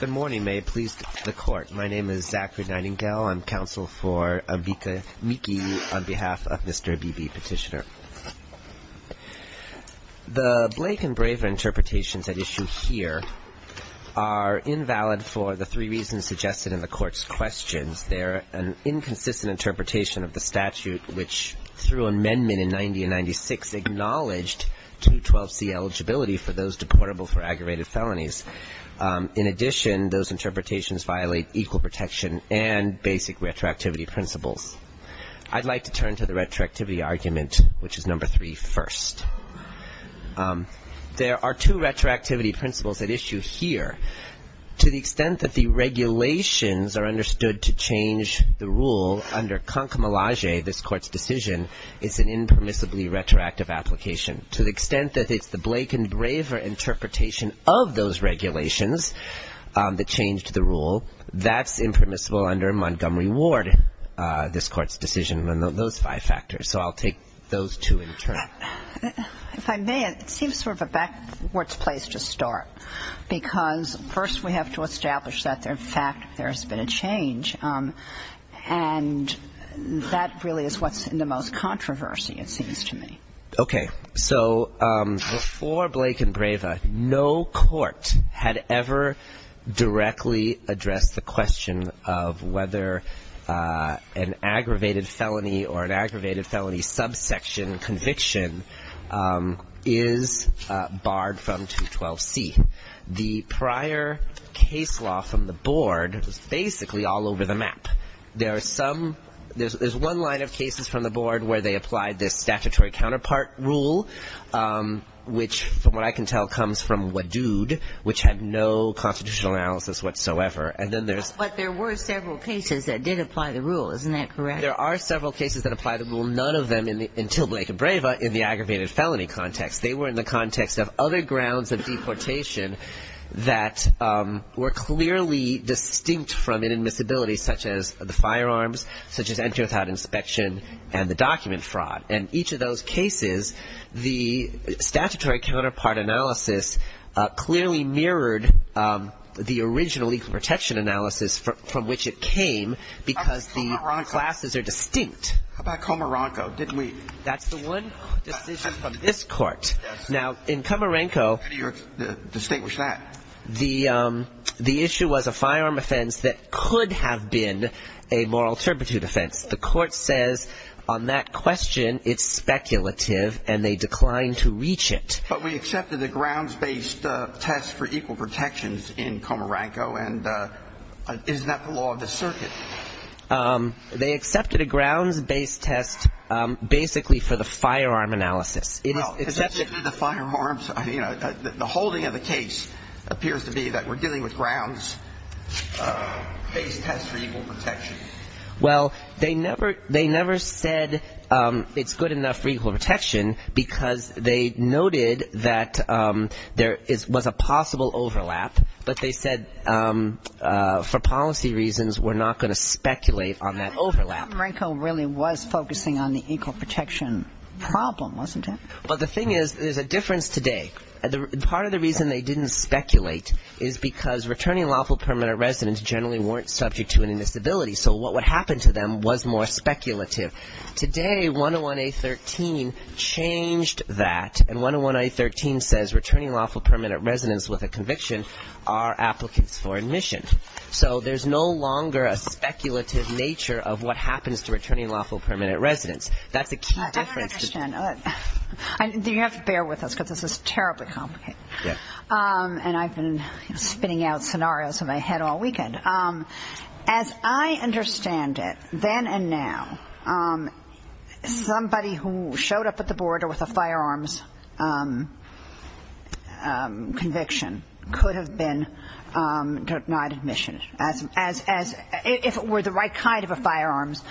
Good morning. May it please the court. My name is Zachary Nightingale. I'm counsel for Ambika Miki on behalf of Mr. Abebe, petitioner. The Blake and Braver interpretations at issue here are invalid for the three reasons suggested in the court's questions. They're an inconsistent interpretation of the statute, which, through amendment in 90 and 96, has acknowledged 212C eligibility for those deportable for aggravated felonies. In addition, those interpretations violate equal protection and basic retroactivity principles. I'd like to turn to the retroactivity argument, which is number three first. There are two retroactivity principles at issue here. To the extent that the regulations are understood to change the rule under concomitant, this court's decision is an impermissibly retroactive application. To the extent that it's the Blake and Braver interpretation of those regulations that changed the rule, that's impermissible under Montgomery Ward, this court's decision on those five factors. So I'll take those two in turn. If I may, it seems sort of a backwards place to start, because first we have to establish that, in fact, there's been a change. And that really is what's in the most controversy, it seems to me. Okay. So before Blake and Braver, no court had ever directly addressed the question of whether an aggravated felony or an aggravated felony subsection conviction is barred from 212C. The prior case law from the board was basically all over the map. There's one line of cases from the board where they applied this statutory counterpart rule, which from what I can tell comes from Wadood, which had no constitutional analysis whatsoever. But there were several cases that did apply the rule. Isn't that correct? There are several cases that apply the rule, none of them until Blake and Braver in the aggravated felony context. They were in the context of other grounds of deportation that were clearly distinct from inadmissibility, such as the firearms, such as entry without inspection, and the document fraud. In each of those cases, the statutory counterpart analysis clearly mirrored the original legal protection analysis from which it came, because the classes are distinct. How about Comoronco? How about Comoronco? Now, in Comoronco, the issue was a firearm offense that could have been a moral turpitude offense. The court says on that question it's speculative, and they declined to reach it. But we accepted a grounds-based test for equal protections in Comoronco, and isn't that the law of the circuit? They accepted a grounds-based test basically for the firearm analysis. Well, because if you do the firearms, you know, the holding of the case appears to be that we're dealing with grounds-based tests for equal protection. Well, they never said it's good enough for equal protection because they noted that there was a possible overlap, but they said for policy reasons we're not going to speculate on that overlap. I think Comoronco really was focusing on the equal protection problem, wasn't it? Well, the thing is there's a difference today. Part of the reason they didn't speculate is because returning lawful permanent residents generally weren't subject to any disability, so what would happen to them was more speculative. Today, 101A13 changed that, and 101A13 says returning lawful permanent residents with a conviction are applicants for admission. So there's no longer a speculative nature of what happens to returning lawful permanent residents. That's a key difference. I don't understand. You have to bear with us because this is terribly complicated. Yeah. And I've been spinning out scenarios in my head all weekend. As I understand it, then and now, somebody who showed up at the border with a firearms conviction could have been denied admission, if it were the right kind of a firearms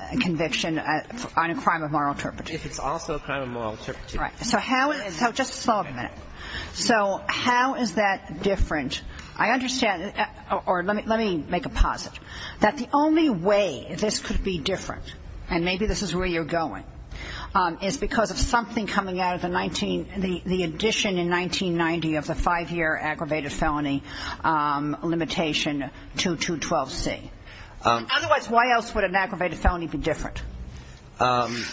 conviction on a crime of moral interpretation. If it's also a crime of moral interpretation. Right. So how is that different? I understand or let me make a posit that the only way this could be different, and maybe this is where you're going, is because of something coming out of the addition in 1990 of the five-year aggravated felony limitation to 212C. Otherwise, why else would an aggravated felony be different? And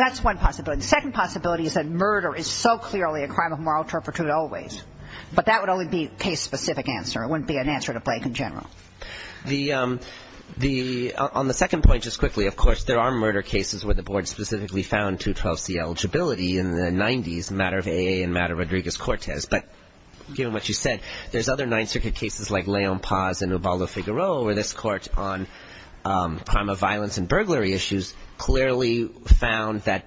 that's one possibility. The second possibility is that murder is so clearly a crime of moral interpretation always, but that would only be a case-specific answer. It wouldn't be an answer to Blake in general. On the second point, just quickly, of course, there are murder cases where the board specifically found 212C eligibility in the 90s, matter of AA and matter of Rodriguez-Cortez. But given what you said, there's other Ninth Circuit cases like Leon Paz and Ubaldo Figueroa, where this court on crime of violence and burglary issues clearly found that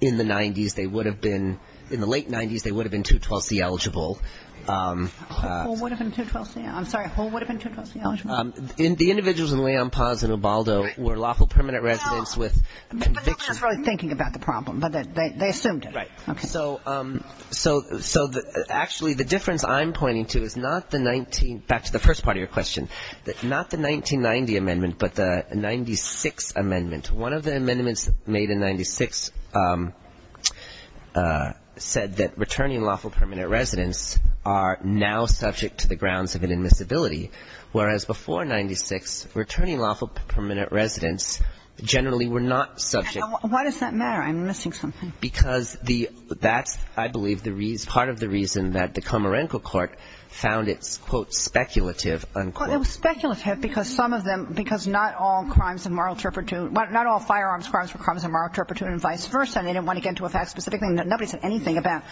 in the 90s, they would have been, in the late 90s, they would have been 212C eligible. Who would have been 212C? I'm sorry. Who would have been 212C eligible? The individuals in Leon Paz and Ubaldo were lawful permanent residents with conviction. But nobody was really thinking about the problem, but they assumed it. Right. Okay. So actually the difference I'm pointing to is not the 19, back to the first part of your question, not the 1990 amendment, but the 96 amendment. One of the amendments made in 96 said that returning lawful permanent residents are now subject to the grounds of inadmissibility, whereas before 96, returning lawful permanent residents generally were not subject. Why does that matter? I'm missing something. Because that's, I believe, part of the reason that the Comerenco Court found it, quote, speculative. It was speculative because some of them, because not all crimes of moral turpitude, not all firearms crimes were crimes of moral turpitude and vice versa, and they didn't want to get into a fact-specific thing. Nobody said anything about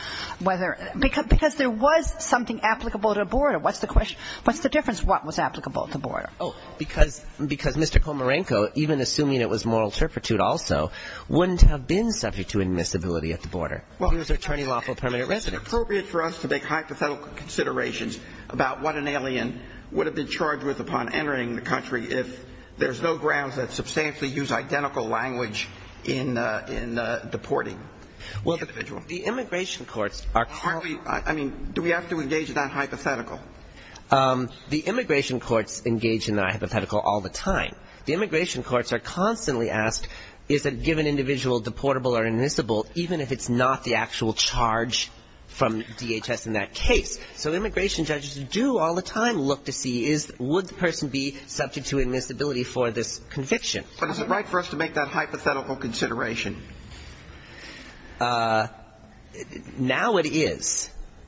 whether, because there was something applicable at a border. What's the question? What's the difference? What was applicable at the border? Oh, because Mr. Comerenco, even assuming it was moral turpitude also, wouldn't have been subject to admissibility at the border. Well, it's appropriate for us to make hypothetical considerations about what an alien would have been charged with upon entering the country if there's no grounds that substantially use identical language in deporting the individual. Well, the immigration courts are constantly – I mean, do we have to engage in that hypothetical? The immigration courts engage in that hypothetical all the time. The immigration courts are constantly asked, is a given individual deportable or admissible, even if it's not the actual charge from DHS in that case? So immigration judges do all the time look to see, would the person be subject to admissibility for this conviction? But is it right for us to make that hypothetical consideration? Now it is.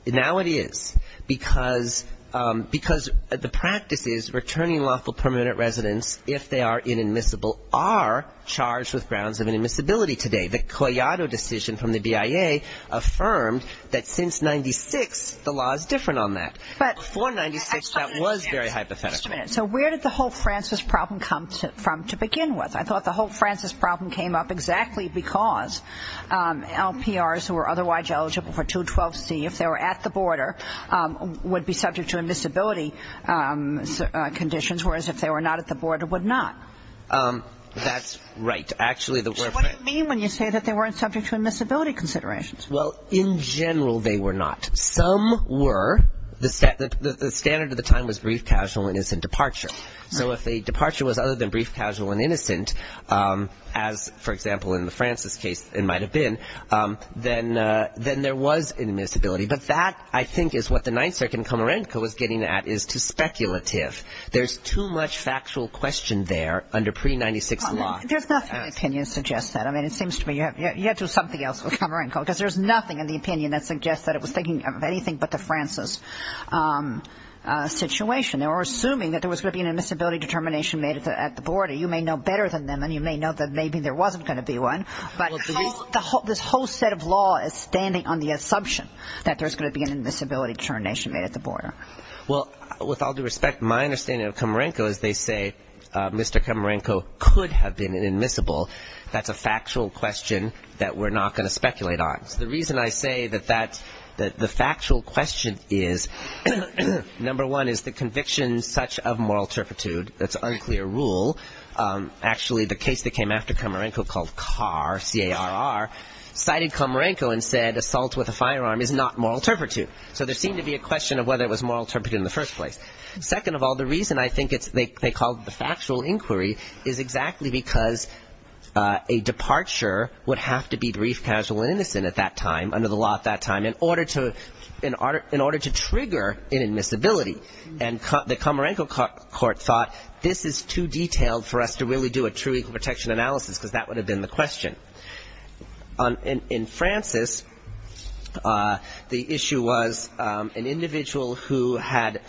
Now it is. Because the practice is returning lawful permanent residence if they are inadmissible are charged with grounds of inadmissibility today. The Collado decision from the BIA affirmed that since 96, the law is different on that. Before 96, that was very hypothetical. Just a minute. So where did the whole Francis problem come from to begin with? I thought the whole Francis problem came up exactly because LPRs who are otherwise eligible for 212C, if they were at the border, would be subject to admissibility conditions, whereas if they were not at the border, would not. That's right. What do you mean when you say that they weren't subject to admissibility considerations? Well, in general, they were not. Some were. The standard at the time was brief, casual, and innocent departure. So if a departure was other than brief, casual, and innocent, as, for example, in the Francis case it might have been, then there was admissibility. But that, I think, is what the Ninth Circuit in Comerenco was getting at, is too speculative. There's too much factual question there under pre-96 law. There's nothing in the opinion that suggests that. I mean, it seems to me you have to do something else with Comerenco, because there's nothing in the opinion that suggests that it was thinking of anything but the Francis situation. They were assuming that there was going to be an admissibility determination made at the border. You may know better than them, and you may know that maybe there wasn't going to be one, but this whole set of law is standing on the assumption that there's going to be an admissibility determination made at the border. Well, with all due respect, my understanding of Comerenco is they say Mr. Comerenco could have been an admissible. That's a factual question that we're not going to speculate on. The reason I say that the factual question is, number one, is the conviction such of moral turpitude, that's unclear rule. Actually, the case that came after Comerenco called Carr, C-A-R-R, cited Comerenco and said assault with a firearm is not moral turpitude. So there seemed to be a question of whether it was moral turpitude in the first place. Second of all, the reason I think they called it the factual inquiry is exactly because a departure would have to be brief, casual, and innocent at that time, under the law at that time, in order to trigger an admissibility. And the Comerenco court thought this is too detailed for us to really do a true equal protection analysis, because that would have been the question. In Francis, the issue was an individual who had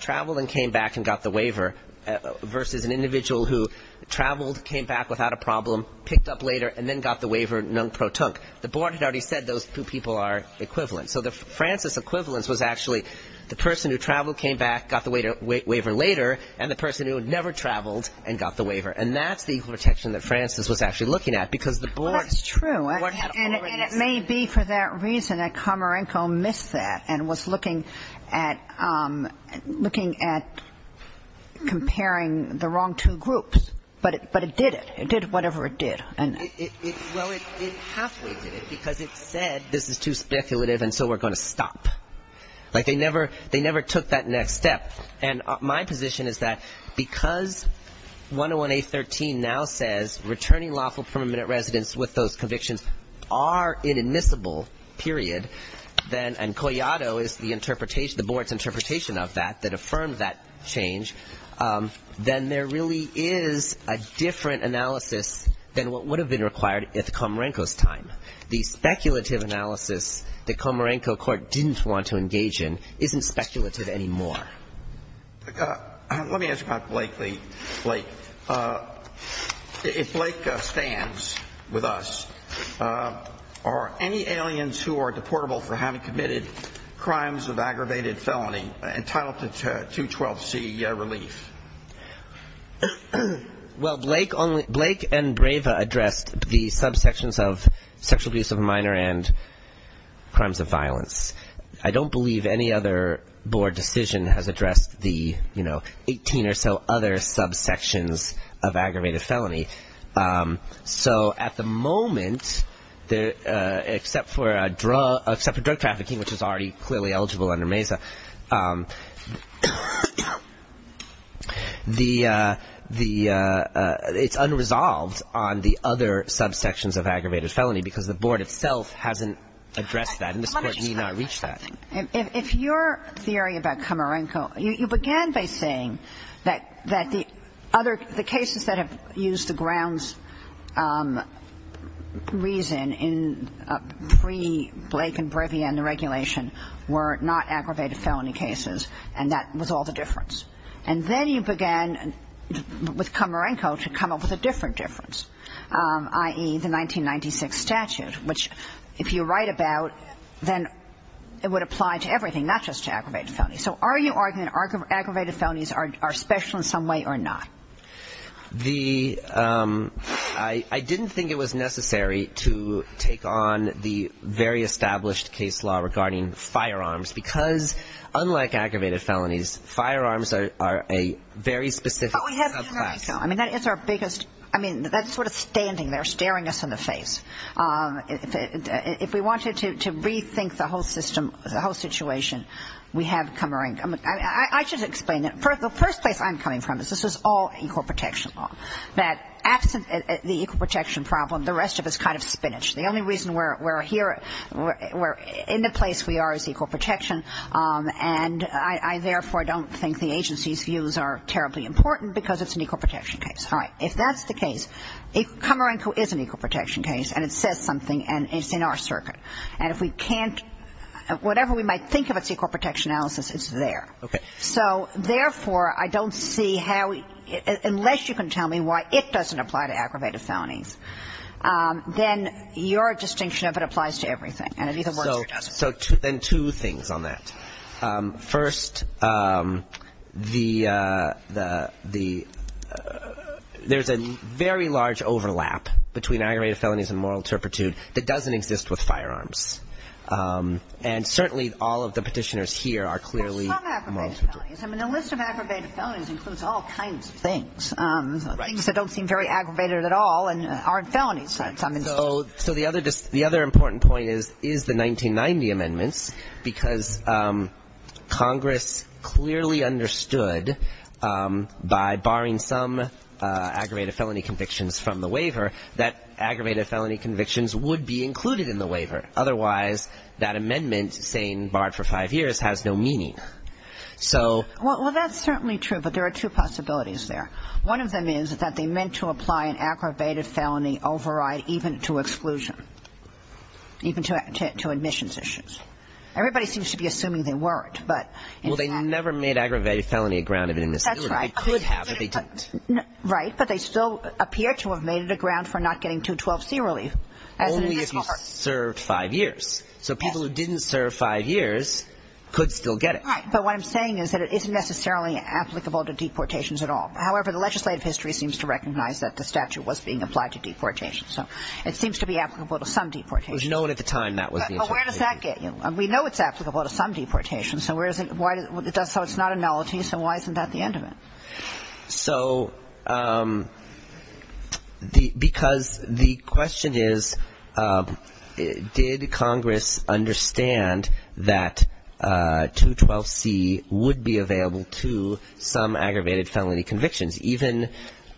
traveled and came back and got the waiver, versus an individual who traveled, came back without a problem, picked up later, and then got the waiver non pro tunk. The board had already said those two people are equivalent. So the Francis equivalence was actually the person who traveled, came back, got the waiver later, and the person who never traveled and got the waiver. And that's the equal protection that Francis was actually looking at, because the board had already said it. Well, that's true, and it may be for that reason that Comerenco missed that and was looking at comparing the wrong two groups. But it did it. It did whatever it did. Well, it halfway did it, because it said this is too speculative, and so we're going to stop. Like they never took that next step. And my position is that because 101A.13 now says returning lawful permanent residents with those convictions are an admissible period, and Collado is the board's interpretation of that that affirmed that change, then there really is a different analysis than what would have been required at Comerenco's time. The speculative analysis that Comerenco court didn't want to engage in isn't speculative anymore. Let me ask you about Blake. If Blake stands with us, are any aliens who are deportable for having committed crimes of aggravated felony entitled to 212C relief? Well, Blake and Brava addressed the subsections of sexual abuse of a minor and crimes of violence. I don't believe any other board decision has addressed the 18 or so other subsections of aggravated felony. So at the moment, except for drug trafficking, which is already clearly eligible under MESA, it's unresolved on the other subsections of aggravated felony, because the board itself hasn't addressed that, and this Court may not reach that. If your theory about Comerenco, you began by saying that the cases that have used the grounds reason in pre-Blake and Brava and the regulation were not aggravated felony cases, and that was all the difference. And then you began with Comerenco to come up with a different difference, i.e., the 1996 statute, which if you write about, then it would apply to everything, not just to aggravated felony. So are you arguing that aggravated felonies are special in some way or not? I didn't think it was necessary to take on the very established case law regarding firearms, because unlike aggravated felonies, firearms are a very specific subclass. I mean, that's sort of standing there staring us in the face. If we wanted to rethink the whole situation, we have Comerenco. I should explain it. The first place I'm coming from is this is all equal protection law, that absent the equal protection problem, the rest of it is kind of spinach. The only reason we're here, we're in the place we are as equal protection, and I, therefore, don't think the agency's views are terribly important because it's an equal protection case. All right. If that's the case, Comerenco is an equal protection case, and it says something, and it's in our circuit. And if we can't – whatever we might think of as equal protection analysis, it's there. Okay. So, therefore, I don't see how – unless you can tell me why it doesn't apply to aggravated felonies, then your distinction of it applies to everything, and it either works or doesn't. So then two things on that. First, the – there's a very large overlap between aggravated felonies and moral turpitude that doesn't exist with firearms. And certainly all of the petitioners here are clearly – Well, some aggravated felonies. I mean, the list of aggravated felonies includes all kinds of things. Right. Things that don't seem very aggravated at all and aren't felonies. So the other – the other important point is, is the 1990 amendments, because Congress clearly understood by barring some aggravated felony convictions from the waiver that aggravated felony convictions would be included in the waiver. Otherwise, that amendment saying barred for five years has no meaning. So – Well, that's certainly true, but there are two possibilities there. One of them is that they meant to apply an aggravated felony override even to exclusion, even to admissions issues. Everybody seems to be assuming they weren't, but in fact – Well, they never made aggravated felony a ground of admission. That's right. They could have, but they didn't. Right. But they still appear to have made it a ground for not getting 212C relief. Only if you served five years. So people who didn't serve five years could still get it. Right. But what I'm saying is that it isn't necessarily applicable to deportations at all. However, the legislative history seems to recognize that the statute was being applied to deportations. So it seems to be applicable to some deportations. It was known at the time that was the intention. But where does that get you? We know it's applicable to some deportations. So it's not a nullity, so why isn't that the end of it? So because the question is, did Congress understand that 212C would be available to some aggravated felony convictions? Even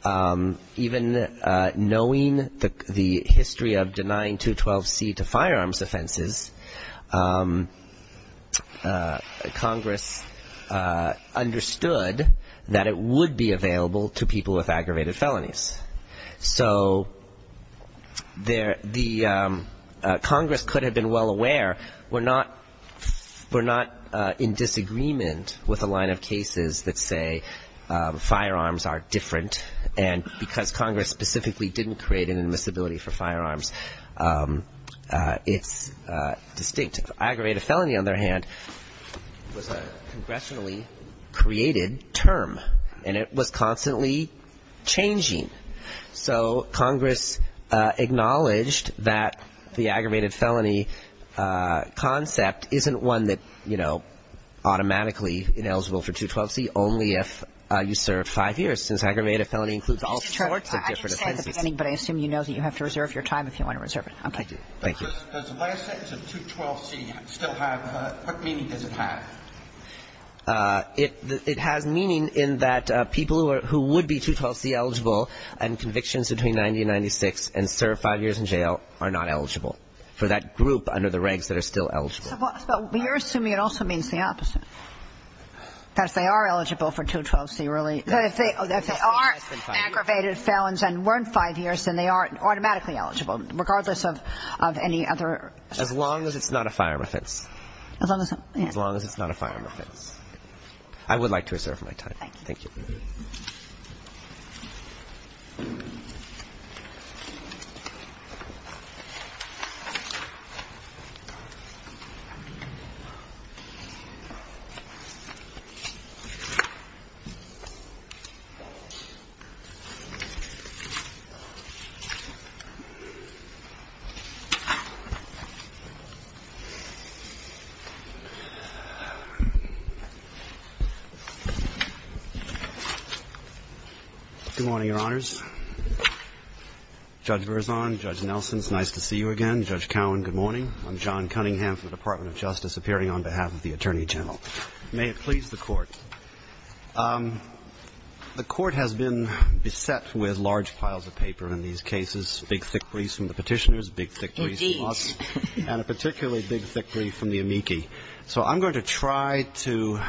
knowing the history of denying 212C to firearms offenses, Congress understood that it would be available to people with aggravated felonies. So Congress could have been well aware. We're not in disagreement with a line of cases that say firearms are different. And because Congress specifically didn't create an admissibility for firearms, it's distinct. Aggravated felony, on the other hand, was a congressionally created term. And it was constantly changing. So Congress acknowledged that the aggravated felony concept isn't one that, you know, automatically ineligible for 212C, only if you serve five years, since aggravated felony includes all sorts of different offenses. I didn't say at the beginning, but I assume you know that you have to reserve your time if you want to reserve it. Okay. Thank you. Does the last sentence of 212C still have – what meaning does it have? It has meaning in that people who would be 212C eligible and convictions between 90 and 96 and serve five years in jail are not eligible for that group under the regs that are still eligible. But you're assuming it also means the opposite, that if they are eligible for 212C really – that if they are aggravated felons and weren't five years, then they aren't automatically eligible, regardless of any other – As long as it's not a firearm offense. As long as – yeah. As long as it's not a firearm offense. I would like to reserve my time. Thank you. Thank you. Good morning, Your Honors. Judge Berzon, Judge Nelson, it's nice to see you again. Judge Cowan, good morning. I'm John Cunningham from the Department of Justice, appearing on behalf of the Attorney General. May it please the Court. The Court has been beset with large piles of paper in these last several years. In these cases, big, thick briefs from the petitioners, big, thick briefs from us, and a particularly big, thick brief from the amici. So I'm going to try to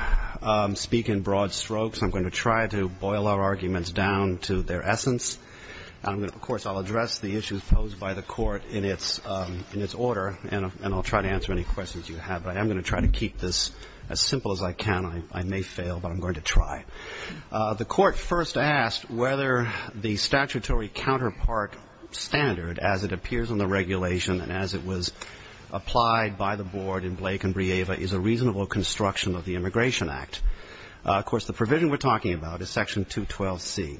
speak in broad strokes. I'm going to try to boil our arguments down to their essence. Of course, I'll address the issues posed by the Court in its order, and I'll try to answer any questions you have. But I am going to try to keep this as simple as I can. I may fail, but I'm going to try. The Court first asked whether the statutory counterpart standard, as it appears on the regulation and as it was applied by the Board in Blake and Brieva, is a reasonable construction of the Immigration Act. Of course, the provision we're talking about is Section 212C.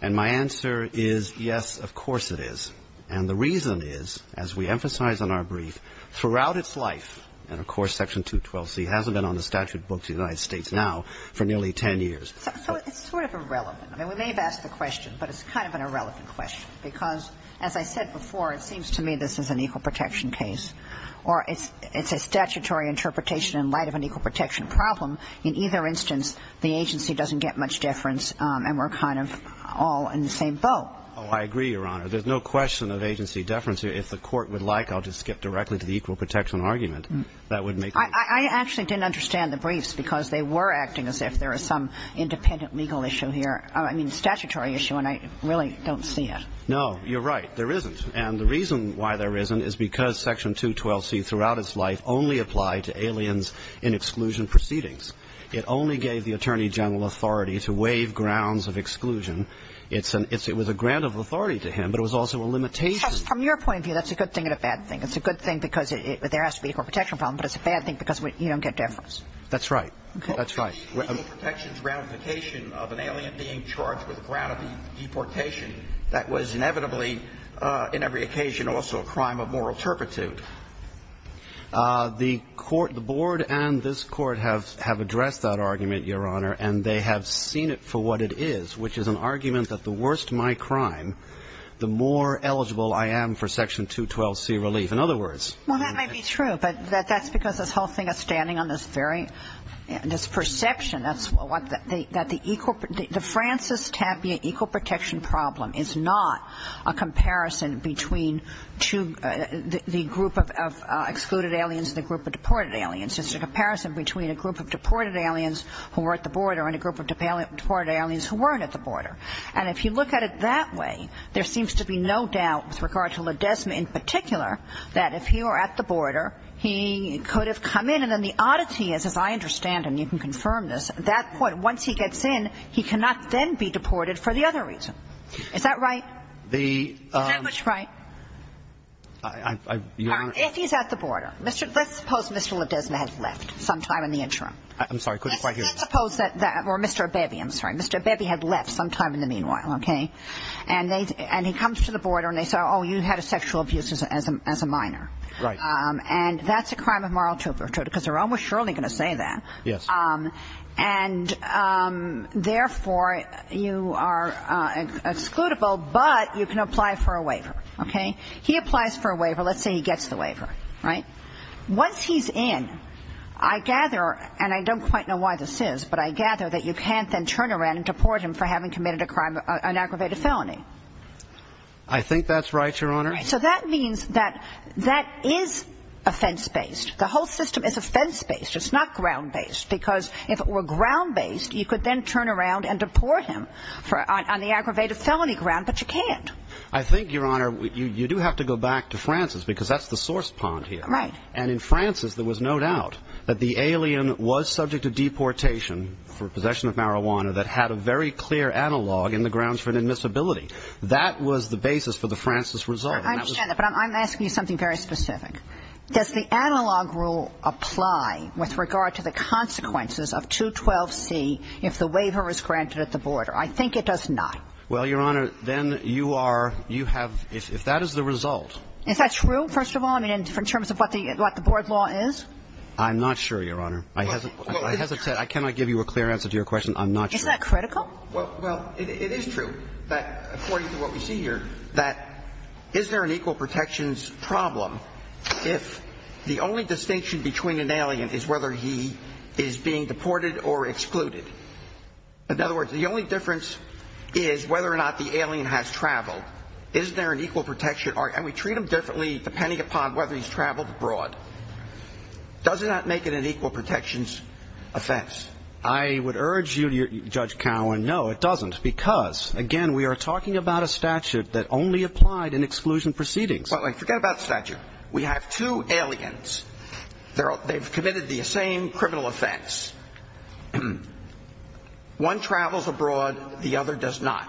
And my answer is, yes, of course it is. And the reason is, as we emphasize in our brief, throughout its life, and of course Section 212C hasn't been on the statute books of the United States now for nearly 10 years. So it's sort of irrelevant. I mean, we may have asked the question, but it's kind of an irrelevant question. Because, as I said before, it seems to me this is an equal protection case. Or it's a statutory interpretation in light of an equal protection problem. In either instance, the agency doesn't get much deference, and we're kind of all in the same boat. Oh, I agree, Your Honor. There's no question of agency deference here. If the Court would like, I'll just skip directly to the equal protection argument. That would make no difference. I actually didn't understand the briefs, because they were acting as if there was some independent legal issue here. I mean, statutory issue, and I really don't see it. No, you're right. There isn't. And the reason why there isn't is because Section 212C throughout its life only applied to aliens in exclusion proceedings. It only gave the Attorney General authority to waive grounds of exclusion. It was a grant of authority to him, but it was also a limitation. From your point of view, that's a good thing and a bad thing. It's a good thing because there has to be a equal protection problem, but it's a bad thing because you don't get deference. That's right. That's right. The equal protections ramification of an alien being charged with a grant of deportation, that was inevitably in every occasion also a crime of moral turpitude. The Court, the Board and this Court have addressed that argument, Your Honor, and they have seen it for what it is, which is an argument that the worse my crime, the more eligible I am for Section 212C relief. In other words ---- Well, that may be true, but that's because this whole thing is standing on this very, this perception that the equal, the Francis Tapia equal protection problem is not a comparison between two, the group of excluded aliens and the group of deported aliens. It's a comparison between a group of deported aliens who were at the border and a group of deported aliens who weren't at the border. And if you look at it that way, there seems to be no doubt with regard to Ledesma in particular that if he were at the border, he could have come in. And then the oddity is, as I understand and you can confirm this, at that point, once he gets in, he cannot then be deported for the other reason. Is that right? The ---- I ---- Your Honor, if he's at the border. Let's suppose Mr. Ledesma had left sometime in the interim. I'm sorry, I couldn't quite hear you. Let's suppose that, or Mr. Abebe, I'm sorry, Mr. Abebe had left sometime in the meanwhile, okay? And he comes to the border and they say, oh, you had a sexual abuse as a minor. Right. And that's a crime of moral turpitude because they're almost surely going to say that. Yes. And therefore, you are excludable, but you can apply for a waiver, okay? He applies for a waiver. Let's say he gets the waiver, right? Once he's in, I gather, and I don't quite know why this is, but I gather that you can't then turn around and deport him for having committed an aggravated felony. I think that's right, Your Honor. So that means that that is offense-based. The whole system is offense-based. It's not ground-based because if it were ground-based, you could then turn around and deport him on the aggravated felony ground, but you can't. I think, Your Honor, you do have to go back to Francis because that's the source pond here. Right. And in Francis there was no doubt that the alien was subject to deportation for possession of marijuana that had a very clear analog in the grounds for an admissibility. That was the basis for the Francis result. I understand that, but I'm asking you something very specific. Does the analog rule apply with regard to the consequences of 212C if the waiver is granted at the border? I think it does not. Well, Your Honor, then you are, you have, if that is the result. Is that true, first of all, in terms of what the board law is? I'm not sure, Your Honor. I cannot give you a clear answer to your question. I'm not sure. Is that critical? Well, it is true, according to what we see here, that is there an equal protections problem if the only distinction between an alien is whether he is being deported or excluded? In other words, the only difference is whether or not the alien has traveled. Is there an equal protection? And we treat them differently depending upon whether he's traveled abroad. Does that make it an equal protections offense? I would urge you, Judge Cowen, no, it doesn't, because, again, we are talking about a statute that only applied in exclusion proceedings. Forget about the statute. We have two aliens. They've committed the same criminal offense. One travels abroad, the other does not.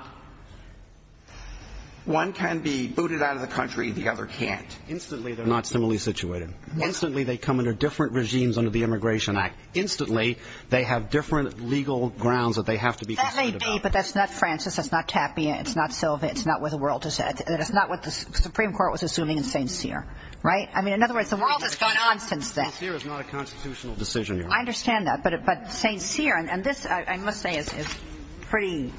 One can be booted out of the country, the other can't. Instantly, they're not similarly situated. Instantly, they come under different regimes under the Immigration Act. Instantly, they have different legal grounds that they have to be concerned about. That may be, but that's not Francis. That's not Tapia. It's not Silva. It's not what the world has said. It's not what the Supreme Court was assuming in St. Cyr. Right? I mean, in other words, the world has gone on since then. St. Cyr is not a constitutional decision, Your Honor. I understand that, but St. Cyr, and this, I must say, is pretty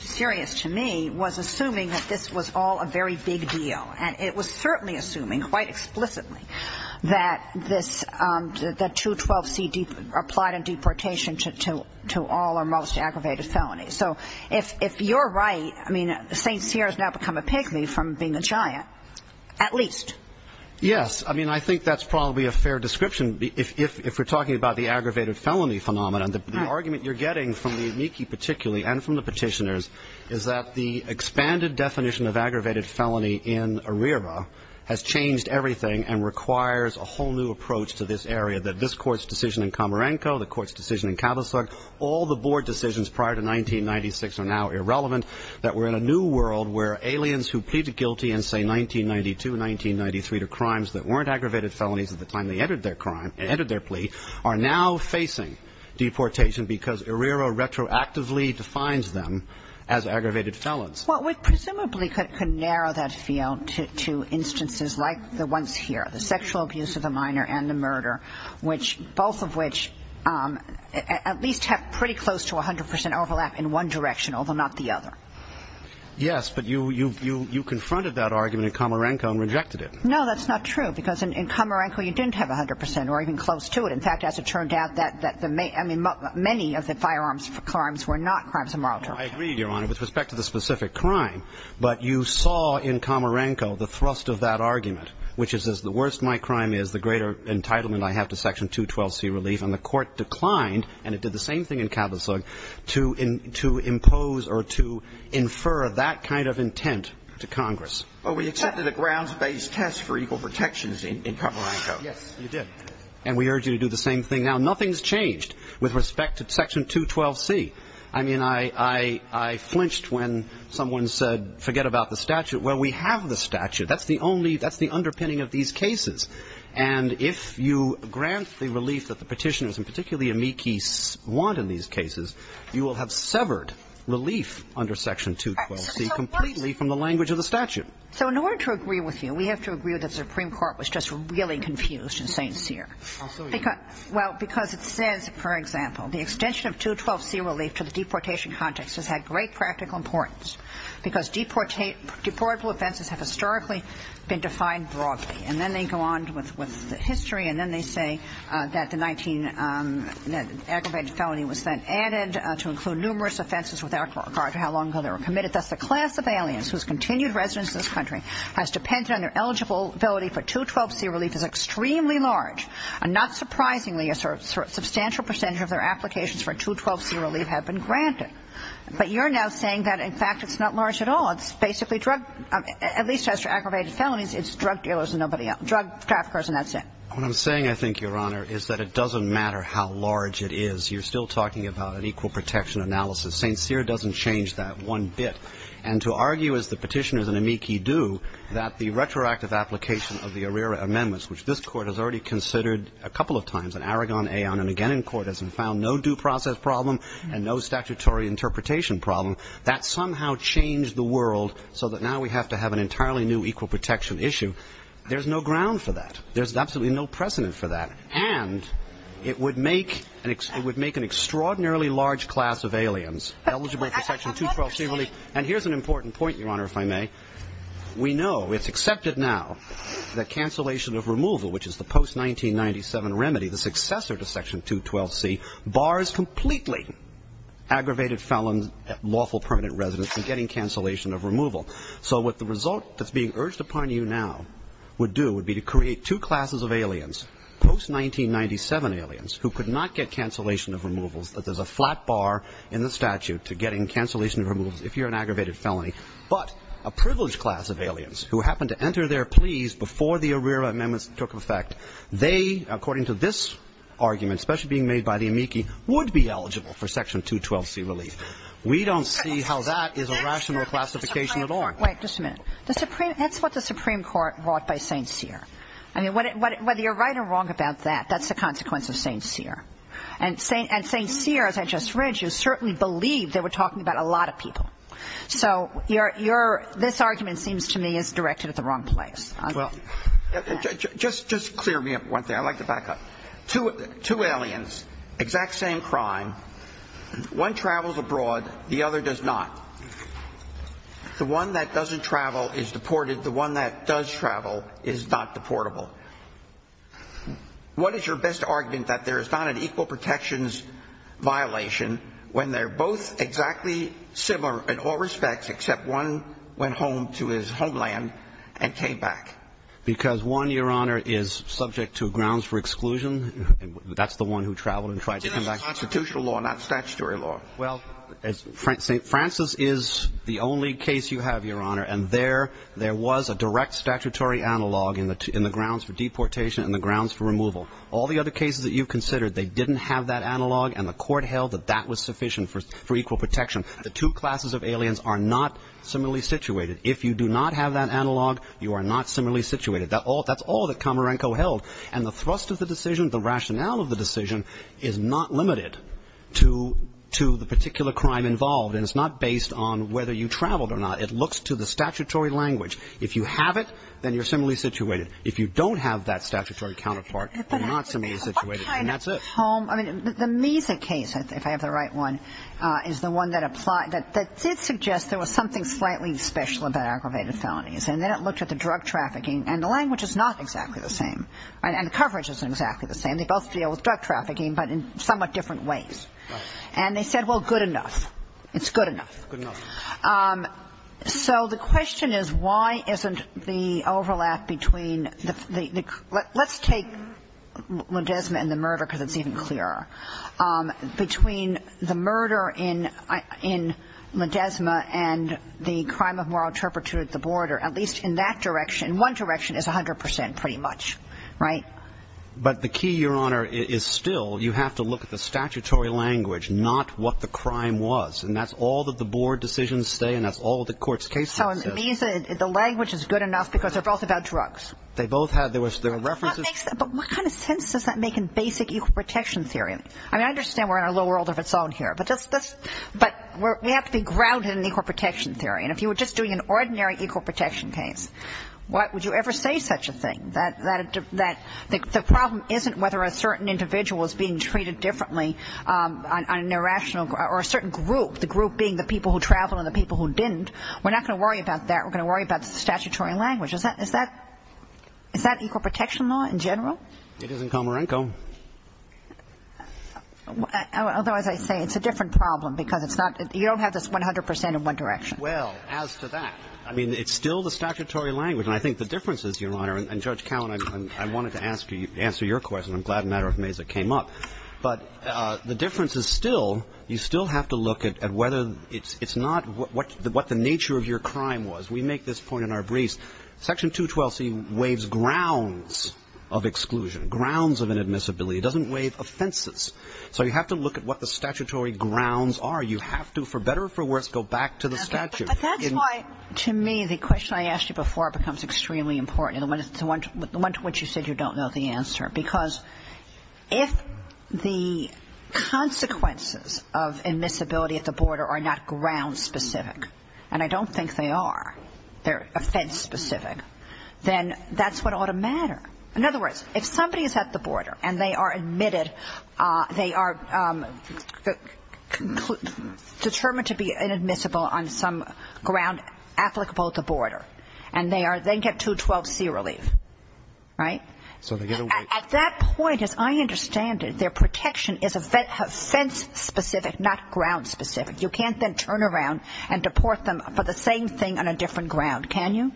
serious to me, was assuming that this was all a very big deal, and it was certainly assuming quite explicitly that this, that 212C applied in deportation to all or most aggravated felonies. So if you're right, I mean, St. Cyr has now become a piggly from being a giant, at least. Yes. I mean, I think that's probably a fair description. If we're talking about the aggravated felony phenomenon, the argument you're getting from the amici particularly and from the petitioners is that the expanded definition of aggravated felony in ARERA has changed everything and requires a whole new approach to this area, that this Court's decision in Komarenko, the Court's decision in Kavusog, all the board decisions prior to 1996 are now irrelevant, that we're in a new world where aliens who plead guilty in, say, 1992, 1993, to crimes that weren't aggravated felonies at the time they entered their plea, are now facing deportation because ARERA retroactively defines them as aggravated felons. Well, we presumably could narrow that field to instances like the ones here, the sexual abuse of the minor and the murder, both of which at least have pretty close to 100 percent overlap in one direction, although not the other. Yes, but you confronted that argument in Komarenko and rejected it. No, that's not true, because in Komarenko you didn't have 100 percent or even close to it. In fact, as it turned out, many of the firearms crimes were not crimes of moral torture. I agree, Your Honor, with respect to the specific crime, but you saw in Komarenko the thrust of that argument, which is the worse my crime is, the greater entitlement I have to Section 212C relief, and the Court declined, and it did the same thing in Kavusog, to impose or to infer that kind of intent to Congress. Well, we accepted a grounds-based test for equal protections in Komarenko. Yes, you did. And we urge you to do the same thing now. Nothing's changed with respect to Section 212C. I mean, I flinched when someone said, forget about the statute. Well, we have the statute. That's the only – that's the underpinning of these cases. And if you grant the relief that the Petitioners, and particularly Amici, want in these cases, you will have severed relief under Section 212C completely from the language of the statute. So in order to agree with you, we have to agree with the Supreme Court was just really confused in saying Sear. I'll show you. Well, because it says, for example, the extension of 212C relief to the deportation context has had great practical importance, because deportable offenses have historically been defined broadly. And then they go on with the history, and then they say that the 19 – that aggravated felony was then added to include numerous offenses without regard to how long ago they were committed. Thus, the class of aliens whose continued residence in this country has depended on their eligibility for 212C relief is extremely large. And not surprisingly, a substantial percentage of their applications for 212C relief have been granted. But you're now saying that, in fact, it's not large at all. It's basically drug – at least as for aggravated felonies, it's drug dealers and nobody else – drug traffickers, and that's it. What I'm saying, I think, Your Honor, is that it doesn't matter how large it is. You're still talking about an equal protection analysis. St. Sear doesn't change that one bit. And to argue, as the petitioners and amici do, that the retroactive application of the ARERA amendments, which this Court has already considered a couple of times in Aragon, Aon, and again in court, hasn't found no due process problem and no statutory interpretation problem, that somehow changed the world so that now we have to have an entirely new equal protection issue. There's no ground for that. There's absolutely no precedent for that. And it would make – it would make an extraordinarily large class of aliens eligible for Section 212C relief. And here's an important point, Your Honor, if I may. We know, it's accepted now, that cancellation of removal, which is the post-1997 remedy, the successor to Section 212C, bars completely aggravated felons, lawful permanent residents, from getting cancellation of removal. So what the result that's being urged upon you now would do would be to create two classes of aliens, post-1997 aliens, who could not get cancellation of removals, that there's a flat bar in the statute to getting cancellation of removals if you're an aggravated felony, but a privileged class of aliens who happen to enter their pleas before the ARERA amendments took effect. They, according to this argument, especially being made by the amici, would be eligible for Section 212C relief. We don't see how that is a rational classification at all. Wait, just a minute. The Supreme – that's what the Supreme Court brought by St. Cyr. I mean, whether you're right or wrong about that, that's the consequence of St. Cyr. And St. Cyr, as I just read you, certainly believed they were talking about a lot of people. So your – this argument seems to me is directed at the wrong place. Well, just clear me up one thing. I'd like to back up. Two aliens, exact same crime. One travels abroad. The other does not. The one that doesn't travel is deported. The one that does travel is not deportable. What is your best argument that there is not an equal protections violation when they're both exactly similar in all respects except one went home to his homeland and came back? Because one, Your Honor, is subject to grounds for exclusion. That's the one who traveled and tried to come back. That's constitutional law, not statutory law. Well, St. Francis is the only case you have, Your Honor. And there was a direct statutory analog in the grounds for deportation and the grounds for removal. All the other cases that you've considered, they didn't have that analog, and the court held that that was sufficient for equal protection. The two classes of aliens are not similarly situated. If you do not have that analog, you are not similarly situated. That's all that Komarenko held. And the thrust of the decision, the rationale of the decision, is not limited to the particular crime involved. And it's not based on whether you traveled or not. It looks to the statutory language. If you have it, then you're similarly situated. If you don't have that statutory counterpart, you're not similarly situated. And that's it. I mean, the Misa case, if I have the right one, is the one that did suggest there was something slightly special about aggravated felonies. And then it looked at the drug trafficking. And the language is not exactly the same. And the coverage isn't exactly the same. They both deal with drug trafficking, but in somewhat different ways. And they said, well, good enough. It's good enough. So the question is, why isn't the overlap between the – let's take LaDesma and the murder, because it's even clearer, between the murder in LaDesma and the crime of moral turpitude at the board, or at least in that direction. One direction is 100 percent pretty much, right? But the key, Your Honor, is still you have to look at the statutory language, not what the crime was. And that's all that the board decisions say, and that's all the court's case has said. So it means that the language is good enough because they're both about drugs. They both had – there were references. But what kind of sense does that make in basic equal protection theory? I mean, I understand we're in a little world of its own here. But we have to be grounded in equal protection theory. And if you were just doing an ordinary equal protection case, what would you ever say such a thing? That the problem isn't whether a certain individual is being treated differently on an irrational – or a certain group, the group being the people who traveled and the people who didn't. We're not going to worry about that. We're going to worry about the statutory language. Is that – is that equal protection law in general? It is in Komarenko. Although, as I say, it's a different problem because it's not – you don't have this 100 percent in one direction. Well, as to that, I mean, it's still the statutory language. And I think the difference is, Your Honor, and, Judge Cowen, I wanted to ask you – answer your question. I'm glad an arithmetic came up. But the difference is still you still have to look at whether – it's not what the nature of your crime was. We make this point in our briefs. Section 212C waives grounds of exclusion, grounds of inadmissibility. It doesn't waive offenses. So you have to look at what the statutory grounds are. You have to, for better or for worse, go back to the statute. Okay. But that's why, to me, the question I asked you before becomes extremely important, the one to which you said you don't know the answer. Because if the consequences of admissibility at the border are not ground-specific, and I don't think they are, they're offense-specific, then that's what ought to matter. In other words, if somebody is at the border and they are admitted, they are determined to be inadmissible on some ground applicable at the border, and they get 212C relief, right? At that point, as I understand it, their protection is offense-specific, not ground-specific. You can't then turn around and deport them for the same thing on a different ground, can you?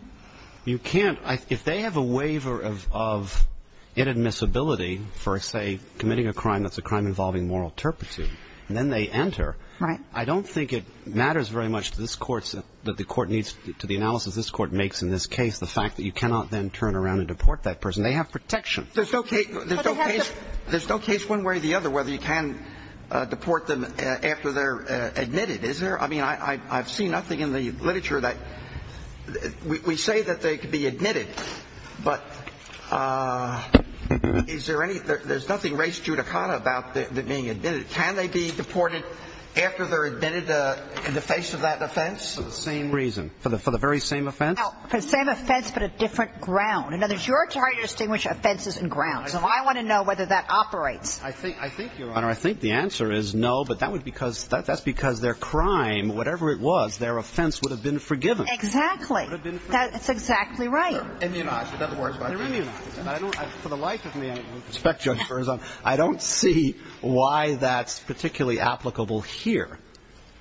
You can't. If they have a waiver of inadmissibility for, say, committing a crime that's a crime involving moral turpitude, then they enter. Right. I don't think it matters very much to this court that the court needs – to the analysis this court makes in this case, the fact that you cannot then turn around and deport that person. They have protection. There's no case one way or the other whether you can deport them after they're admitted, is there? I mean, I've seen nothing in the literature that – we say that they could be admitted, but is there any – there's nothing res judicata about them being admitted. Can they be deported after they're admitted in the face of that offense? For the same reason. For the very same offense? For the same offense but a different ground. In other words, you're trying to distinguish offenses and grounds, and I want to know whether that operates. I think, Your Honor, I think the answer is no, but that's because their crime, whatever it was, their offense would have been forgiven. Exactly. It would have been forgiven. That's exactly right. They're immunized. In other words, they're immunized. For the life of me, I don't see why that's particularly applicable here.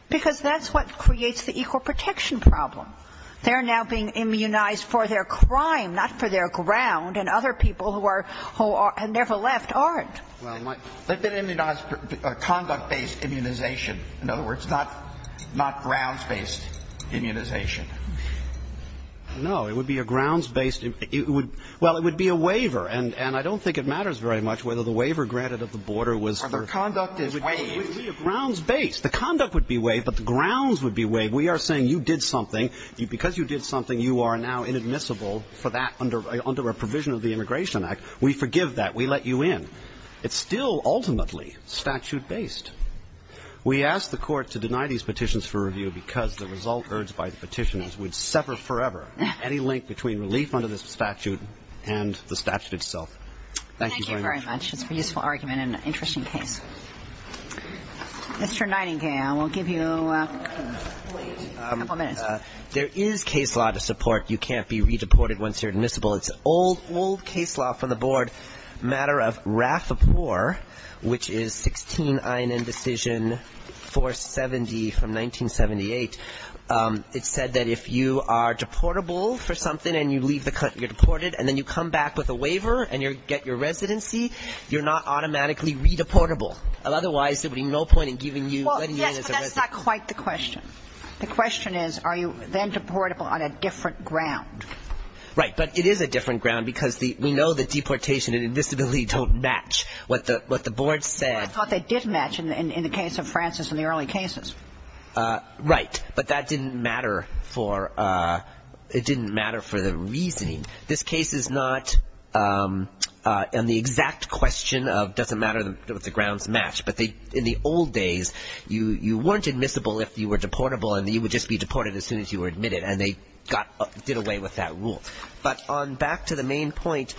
Because that's what creates the equal protection problem. They're now being immunized for their crime, not for their ground, and other people who are – who have never left aren't. Well, they've been immunized for conduct-based immunization. In other words, not grounds-based immunization. No, it would be a grounds-based – well, it would be a waiver, and I don't think it matters very much whether the waiver granted at the border was – Or the conduct is waived. It would be a grounds-based. We are saying you did something. Because you did something, you are now inadmissible for that under a provision of the Immigration Act. We forgive that. We let you in. It's still ultimately statute-based. We ask the Court to deny these petitions for review because the result urged by the petitioners would sever forever any link between relief under this statute and the statute itself. Thank you very much. Thank you very much. It's a useful argument and an interesting case. Mr. Nightingale, we'll give you a couple minutes. There is case law to support you can't be re-deported once you're admissible. It's an old, old case law from the board, a matter of Rathapur, which is 16 INN Decision 470 from 1978. It said that if you are deportable for something and you leave the – you're deported and then you come back with a waiver and you get your residency, you're not automatically re-deportable. Otherwise, there would be no point in giving you – Well, yes, but that's not quite the question. The question is are you then deportable on a different ground? Right. But it is a different ground because we know that deportation and invisibility don't match what the board said. I thought they did match in the case of Francis in the early cases. Right. But that didn't matter for – it didn't matter for the reasoning. This case is not in the exact question of doesn't matter if the grounds match. But in the old days, you weren't admissible if you were deportable and you would just be deported as soon as you were admitted, and they did away with that rule. But on back to the main point,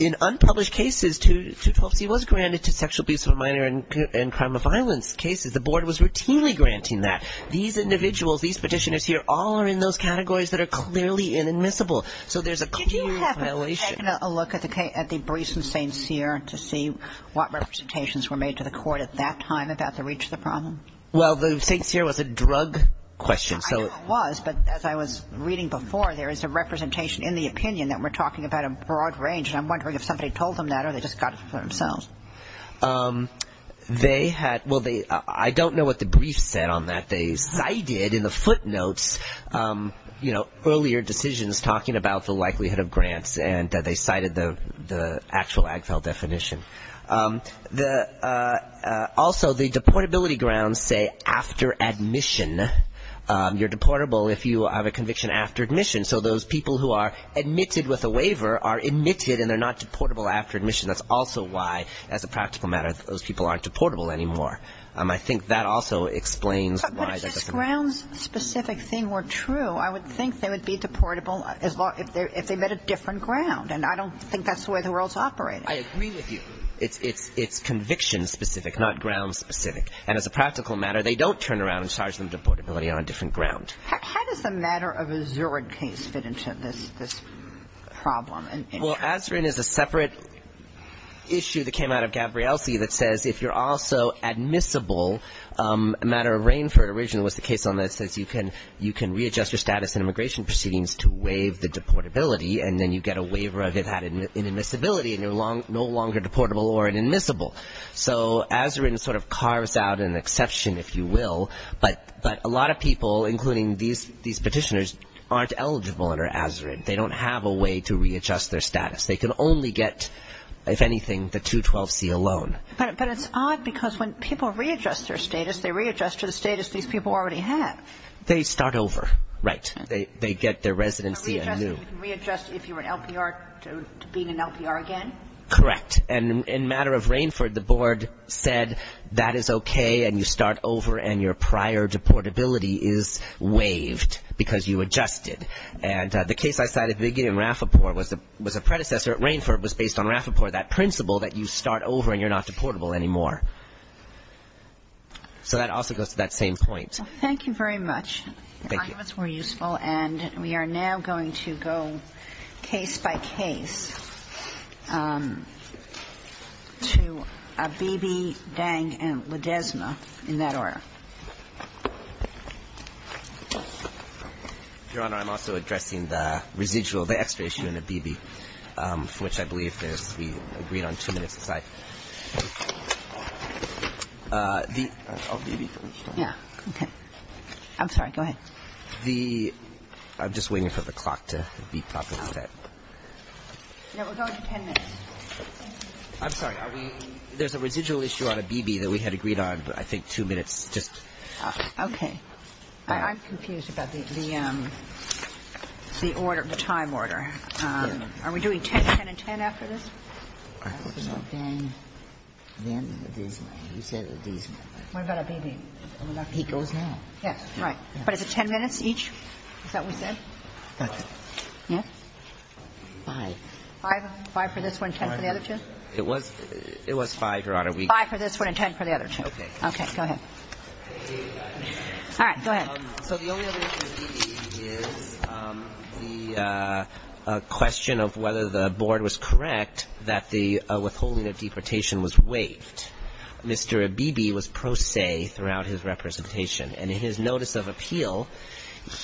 in unpublished cases, 212C was granted to sexual abuse of a minor and crime of violence cases. The board was routinely granting that. These individuals, these petitioners here, all are in those categories that are clearly inadmissible. So there's a clear violation. Did you have a look at the briefs in St. Cyr to see what representations were made to the court at that time about the reach of the problem? Well, the St. Cyr was a drug question. I know it was, but as I was reading before, there is a representation in the opinion that we're talking about a broad range, and I'm wondering if somebody told them that or they just got it for themselves. They had – well, I don't know what the brief said on that. But they cited in the footnotes, you know, earlier decisions talking about the likelihood of grants, and they cited the actual AGFEL definition. Also, the deportability grounds say after admission. You're deportable if you have a conviction after admission. So those people who are admitted with a waiver are admitted and they're not deportable after admission. That's also why, as a practical matter, those people aren't deportable anymore. I think that also explains why that doesn't work. But if this grounds-specific thing were true, I would think they would be deportable if they met a different ground, and I don't think that's the way the world's operating. I agree with you. It's conviction-specific, not grounds-specific. And as a practical matter, they don't turn around and charge them deportability on a different ground. How does the matter of a Zurich case fit into this problem? Well, Azerin is a separate issue that came out of Gabrielsi that says if you're also admissible, a matter of Rainford originally was the case on this, that you can readjust your status in immigration proceedings to waive the deportability, and then you get a waiver of that inadmissibility, and you're no longer deportable or inadmissible. So Azerin sort of carves out an exception, if you will, but a lot of people, including these petitioners, aren't eligible under Azerin. They don't have a way to readjust their status. They can only get, if anything, the 212C alone. But it's odd because when people readjust their status, they readjust to the status these people already have. They start over. Right. They get their residency anew. You can readjust if you're an LPR to being an LPR again? Correct. And in matter of Rainford, the board said that is okay, and you start over, and your prior deportability is waived because you adjusted. And the case I cited at the beginning in Rafferpore was a predecessor at Rainford that was based on Rafferpore, that principle that you start over and you're not deportable anymore. So that also goes to that same point. Thank you very much. Thank you. I hope it's more useful. And we are now going to go case by case to Abebe, Dang, and Ledesma in that order. Your Honor, I'm also addressing the residual, the extra issue in Abebe, for which I believe we agreed on two minutes aside. I'll be with you. Yeah. Okay. I'm sorry. Go ahead. I'm just waiting for the clock to be properly set. No, we'll go into 10 minutes. I'm sorry. There's a residual issue on Abebe that we had agreed on, but I think two minutes Okay. I'm confused about the order, the time order. Are we doing 10, 10 and 10 after this? Dang, then Ledesma. You said Ledesma. What about Abebe? He goes now. Yes. Right. But is it 10 minutes each? Is that what we said? Yes. Five. Five for this one, 10 for the other two? It was five, Your Honor. Five for this one and 10 for the other two. Okay. Okay. Go ahead. All right. Go ahead. So the only other issue with Abebe is the question of whether the Board was correct that the withholding of deportation was waived. Mr. Abebe was pro se throughout his representation. And in his notice of appeal,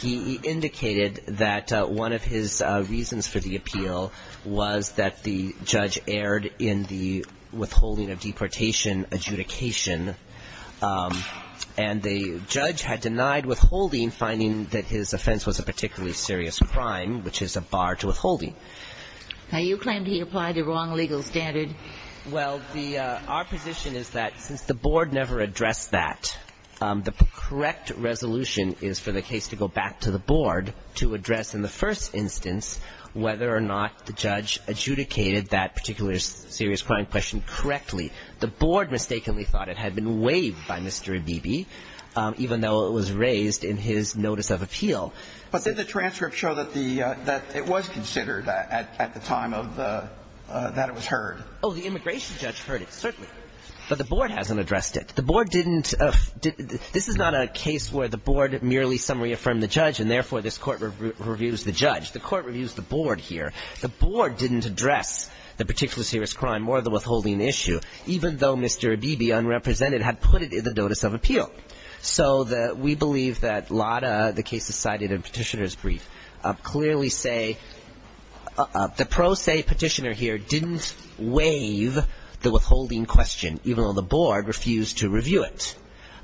he indicated that one of his reasons for the appeal was that the judge erred in the withholding of deportation adjudication. And the judge had denied withholding, finding that his offense was a particularly serious crime, which is a bar to withholding. Now, you claim he applied the wrong legal standard. Well, our position is that since the Board never addressed that, the correct resolution is for the case to go back to the Board to address in the first instance whether or not the judge adjudicated that particular serious crime question correctly. The Board mistakenly thought it had been waived by Mr. Abebe, even though it was raised in his notice of appeal. But did the transcript show that the – that it was considered at the time of the – that it was heard? Oh, the immigration judge heard it, certainly. But the Board hasn't addressed it. The Board didn't – this is not a case where the Board merely summary affirmed the judge, and therefore, this Court reviews the judge. The Court reviews the Board here. The Board didn't address the particularly serious crime or the withholding issue, even though Mr. Abebe, unrepresented, had put it in the notice of appeal. So the – we believe that Lada, the case decided in Petitioner's brief, clearly say – the pro se Petitioner here didn't waive the withholding question, even though the Board refused to review it.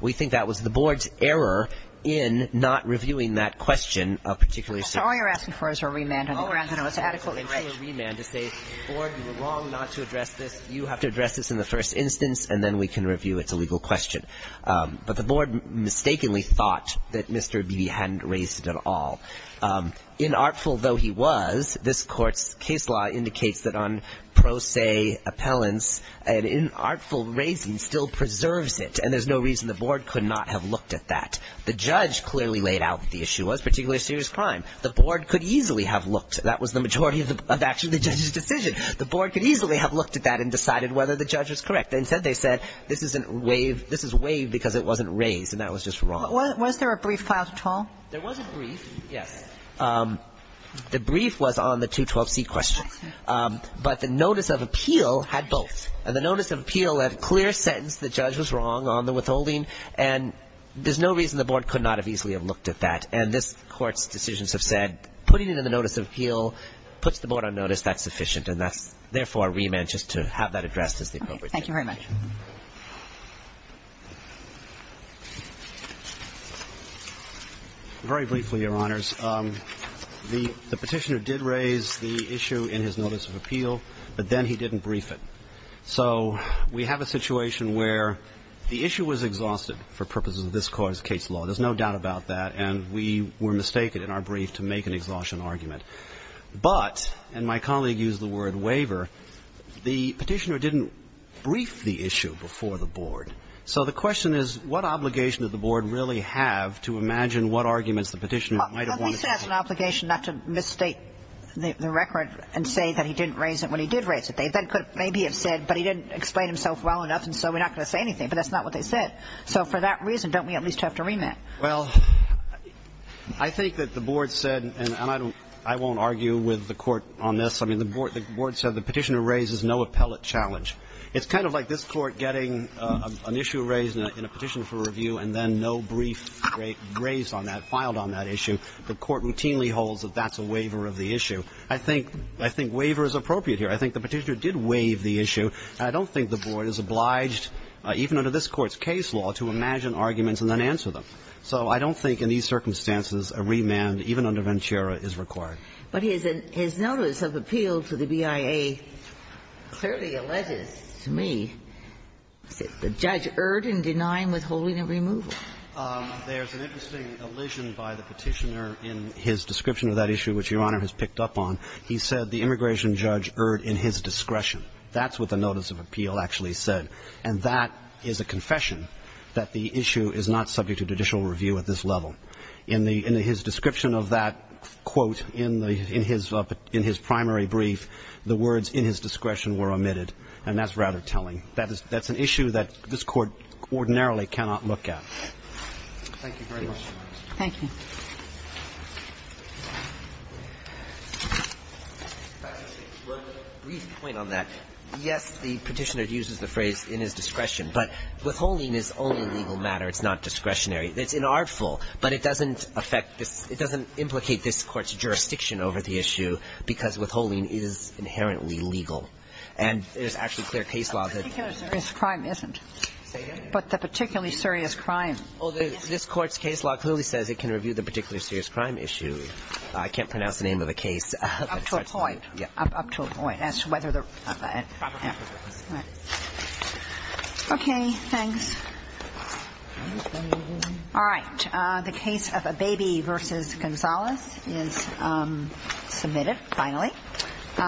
We think that was the Board's error in not reviewing that question of particularly serious crime. So all you're asking for is a remand on the grounds that it was adequately Well, we're asking for a remand to say, Board, you were wrong not to address this. You have to address this in the first instance, and then we can review its illegal question. But the Board mistakenly thought that Mr. Abebe hadn't raised it at all. Inartful though he was, this Court's case law indicates that on pro se appellants, an inartful raising still preserves it, and there's no reason the Board could not have looked at that. The judge clearly laid out what the issue was, particularly serious crime. The Board could easily have looked. That was the majority of actually the judge's decision. The Board could easily have looked at that and decided whether the judge was correct. Instead, they said, this is waived because it wasn't raised, and that was just wrong. Was there a brief filed at all? There was a brief, yes. The brief was on the 212C question. But the notice of appeal had both. And the notice of appeal had a clear sentence, the judge was wrong on the withholding, and there's no reason the Board could not have easily have looked at that. And this Court's decisions have said, putting it in the notice of appeal puts the Board on notice, that's sufficient. And that's, therefore, a remand just to have that addressed as the appropriate thing. Thank you very much. Very briefly, Your Honors. The Petitioner did raise the issue in his notice of appeal, but then he didn't brief it. So we have a situation where the issue was exhausted for purposes of this Court's case law. There's no doubt about that. And we were mistaken in our brief to make an exhaustion argument. But, and my colleague used the word waiver, the Petitioner didn't brief the issue before the Board. So the question is, what obligation did the Board really have to imagine what arguments the Petitioner might have wanted to make? Well, at least it has an obligation not to misstate the record and say that he didn't raise it when he did raise it. They could maybe have said, but he didn't explain himself well enough, and so we're not going to say anything. But that's not what they said. So for that reason, don't we at least have to remit? Well, I think that the Board said, and I won't argue with the Court on this. I mean, the Board said the Petitioner raises no appellate challenge. It's kind of like this Court getting an issue raised in a petition for review and then no brief raised on that, filed on that issue. The Court routinely holds that that's a waiver of the issue. I think waiver is appropriate here. I think the Petitioner did waive the issue. I don't think the Board is obliged, even under this Court's case law, to imagine arguments and then answer them. So I don't think in these circumstances a remand, even under Venchera, is required. But his notice of appeal to the BIA clearly alleges to me that the judge erred in denying withholding and removal. There's an interesting allusion by the Petitioner in his description of that issue, which Your Honor has picked up on. He said the immigration judge erred in his discretion. That's what the notice of appeal actually said. And that is a confession that the issue is not subject to judicial review at this level. In his description of that quote in his primary brief, the words in his discretion were omitted, and that's rather telling. That's an issue that this Court ordinarily cannot look at. Thank you very much. Thank you. Breyer. Yes, the Petitioner uses the phrase in his discretion. But withholding is only a legal matter. It's not discretionary. It's inartful. But it doesn't affect this – it doesn't implicate this Court's jurisdiction over the issue, because withholding is inherently legal. And there's actually clear case law that – But the particularly serious crime isn't. Say again? But the particularly serious crime isn't. Well, this Court's case law clearly says it can review the particularly serious crime issue. I can't pronounce the name of the case. Up to a point. Yeah. Up to a point. As to whether the – Okay, thanks. All right. The case of Abebe v. Gonzales is submitted, finally.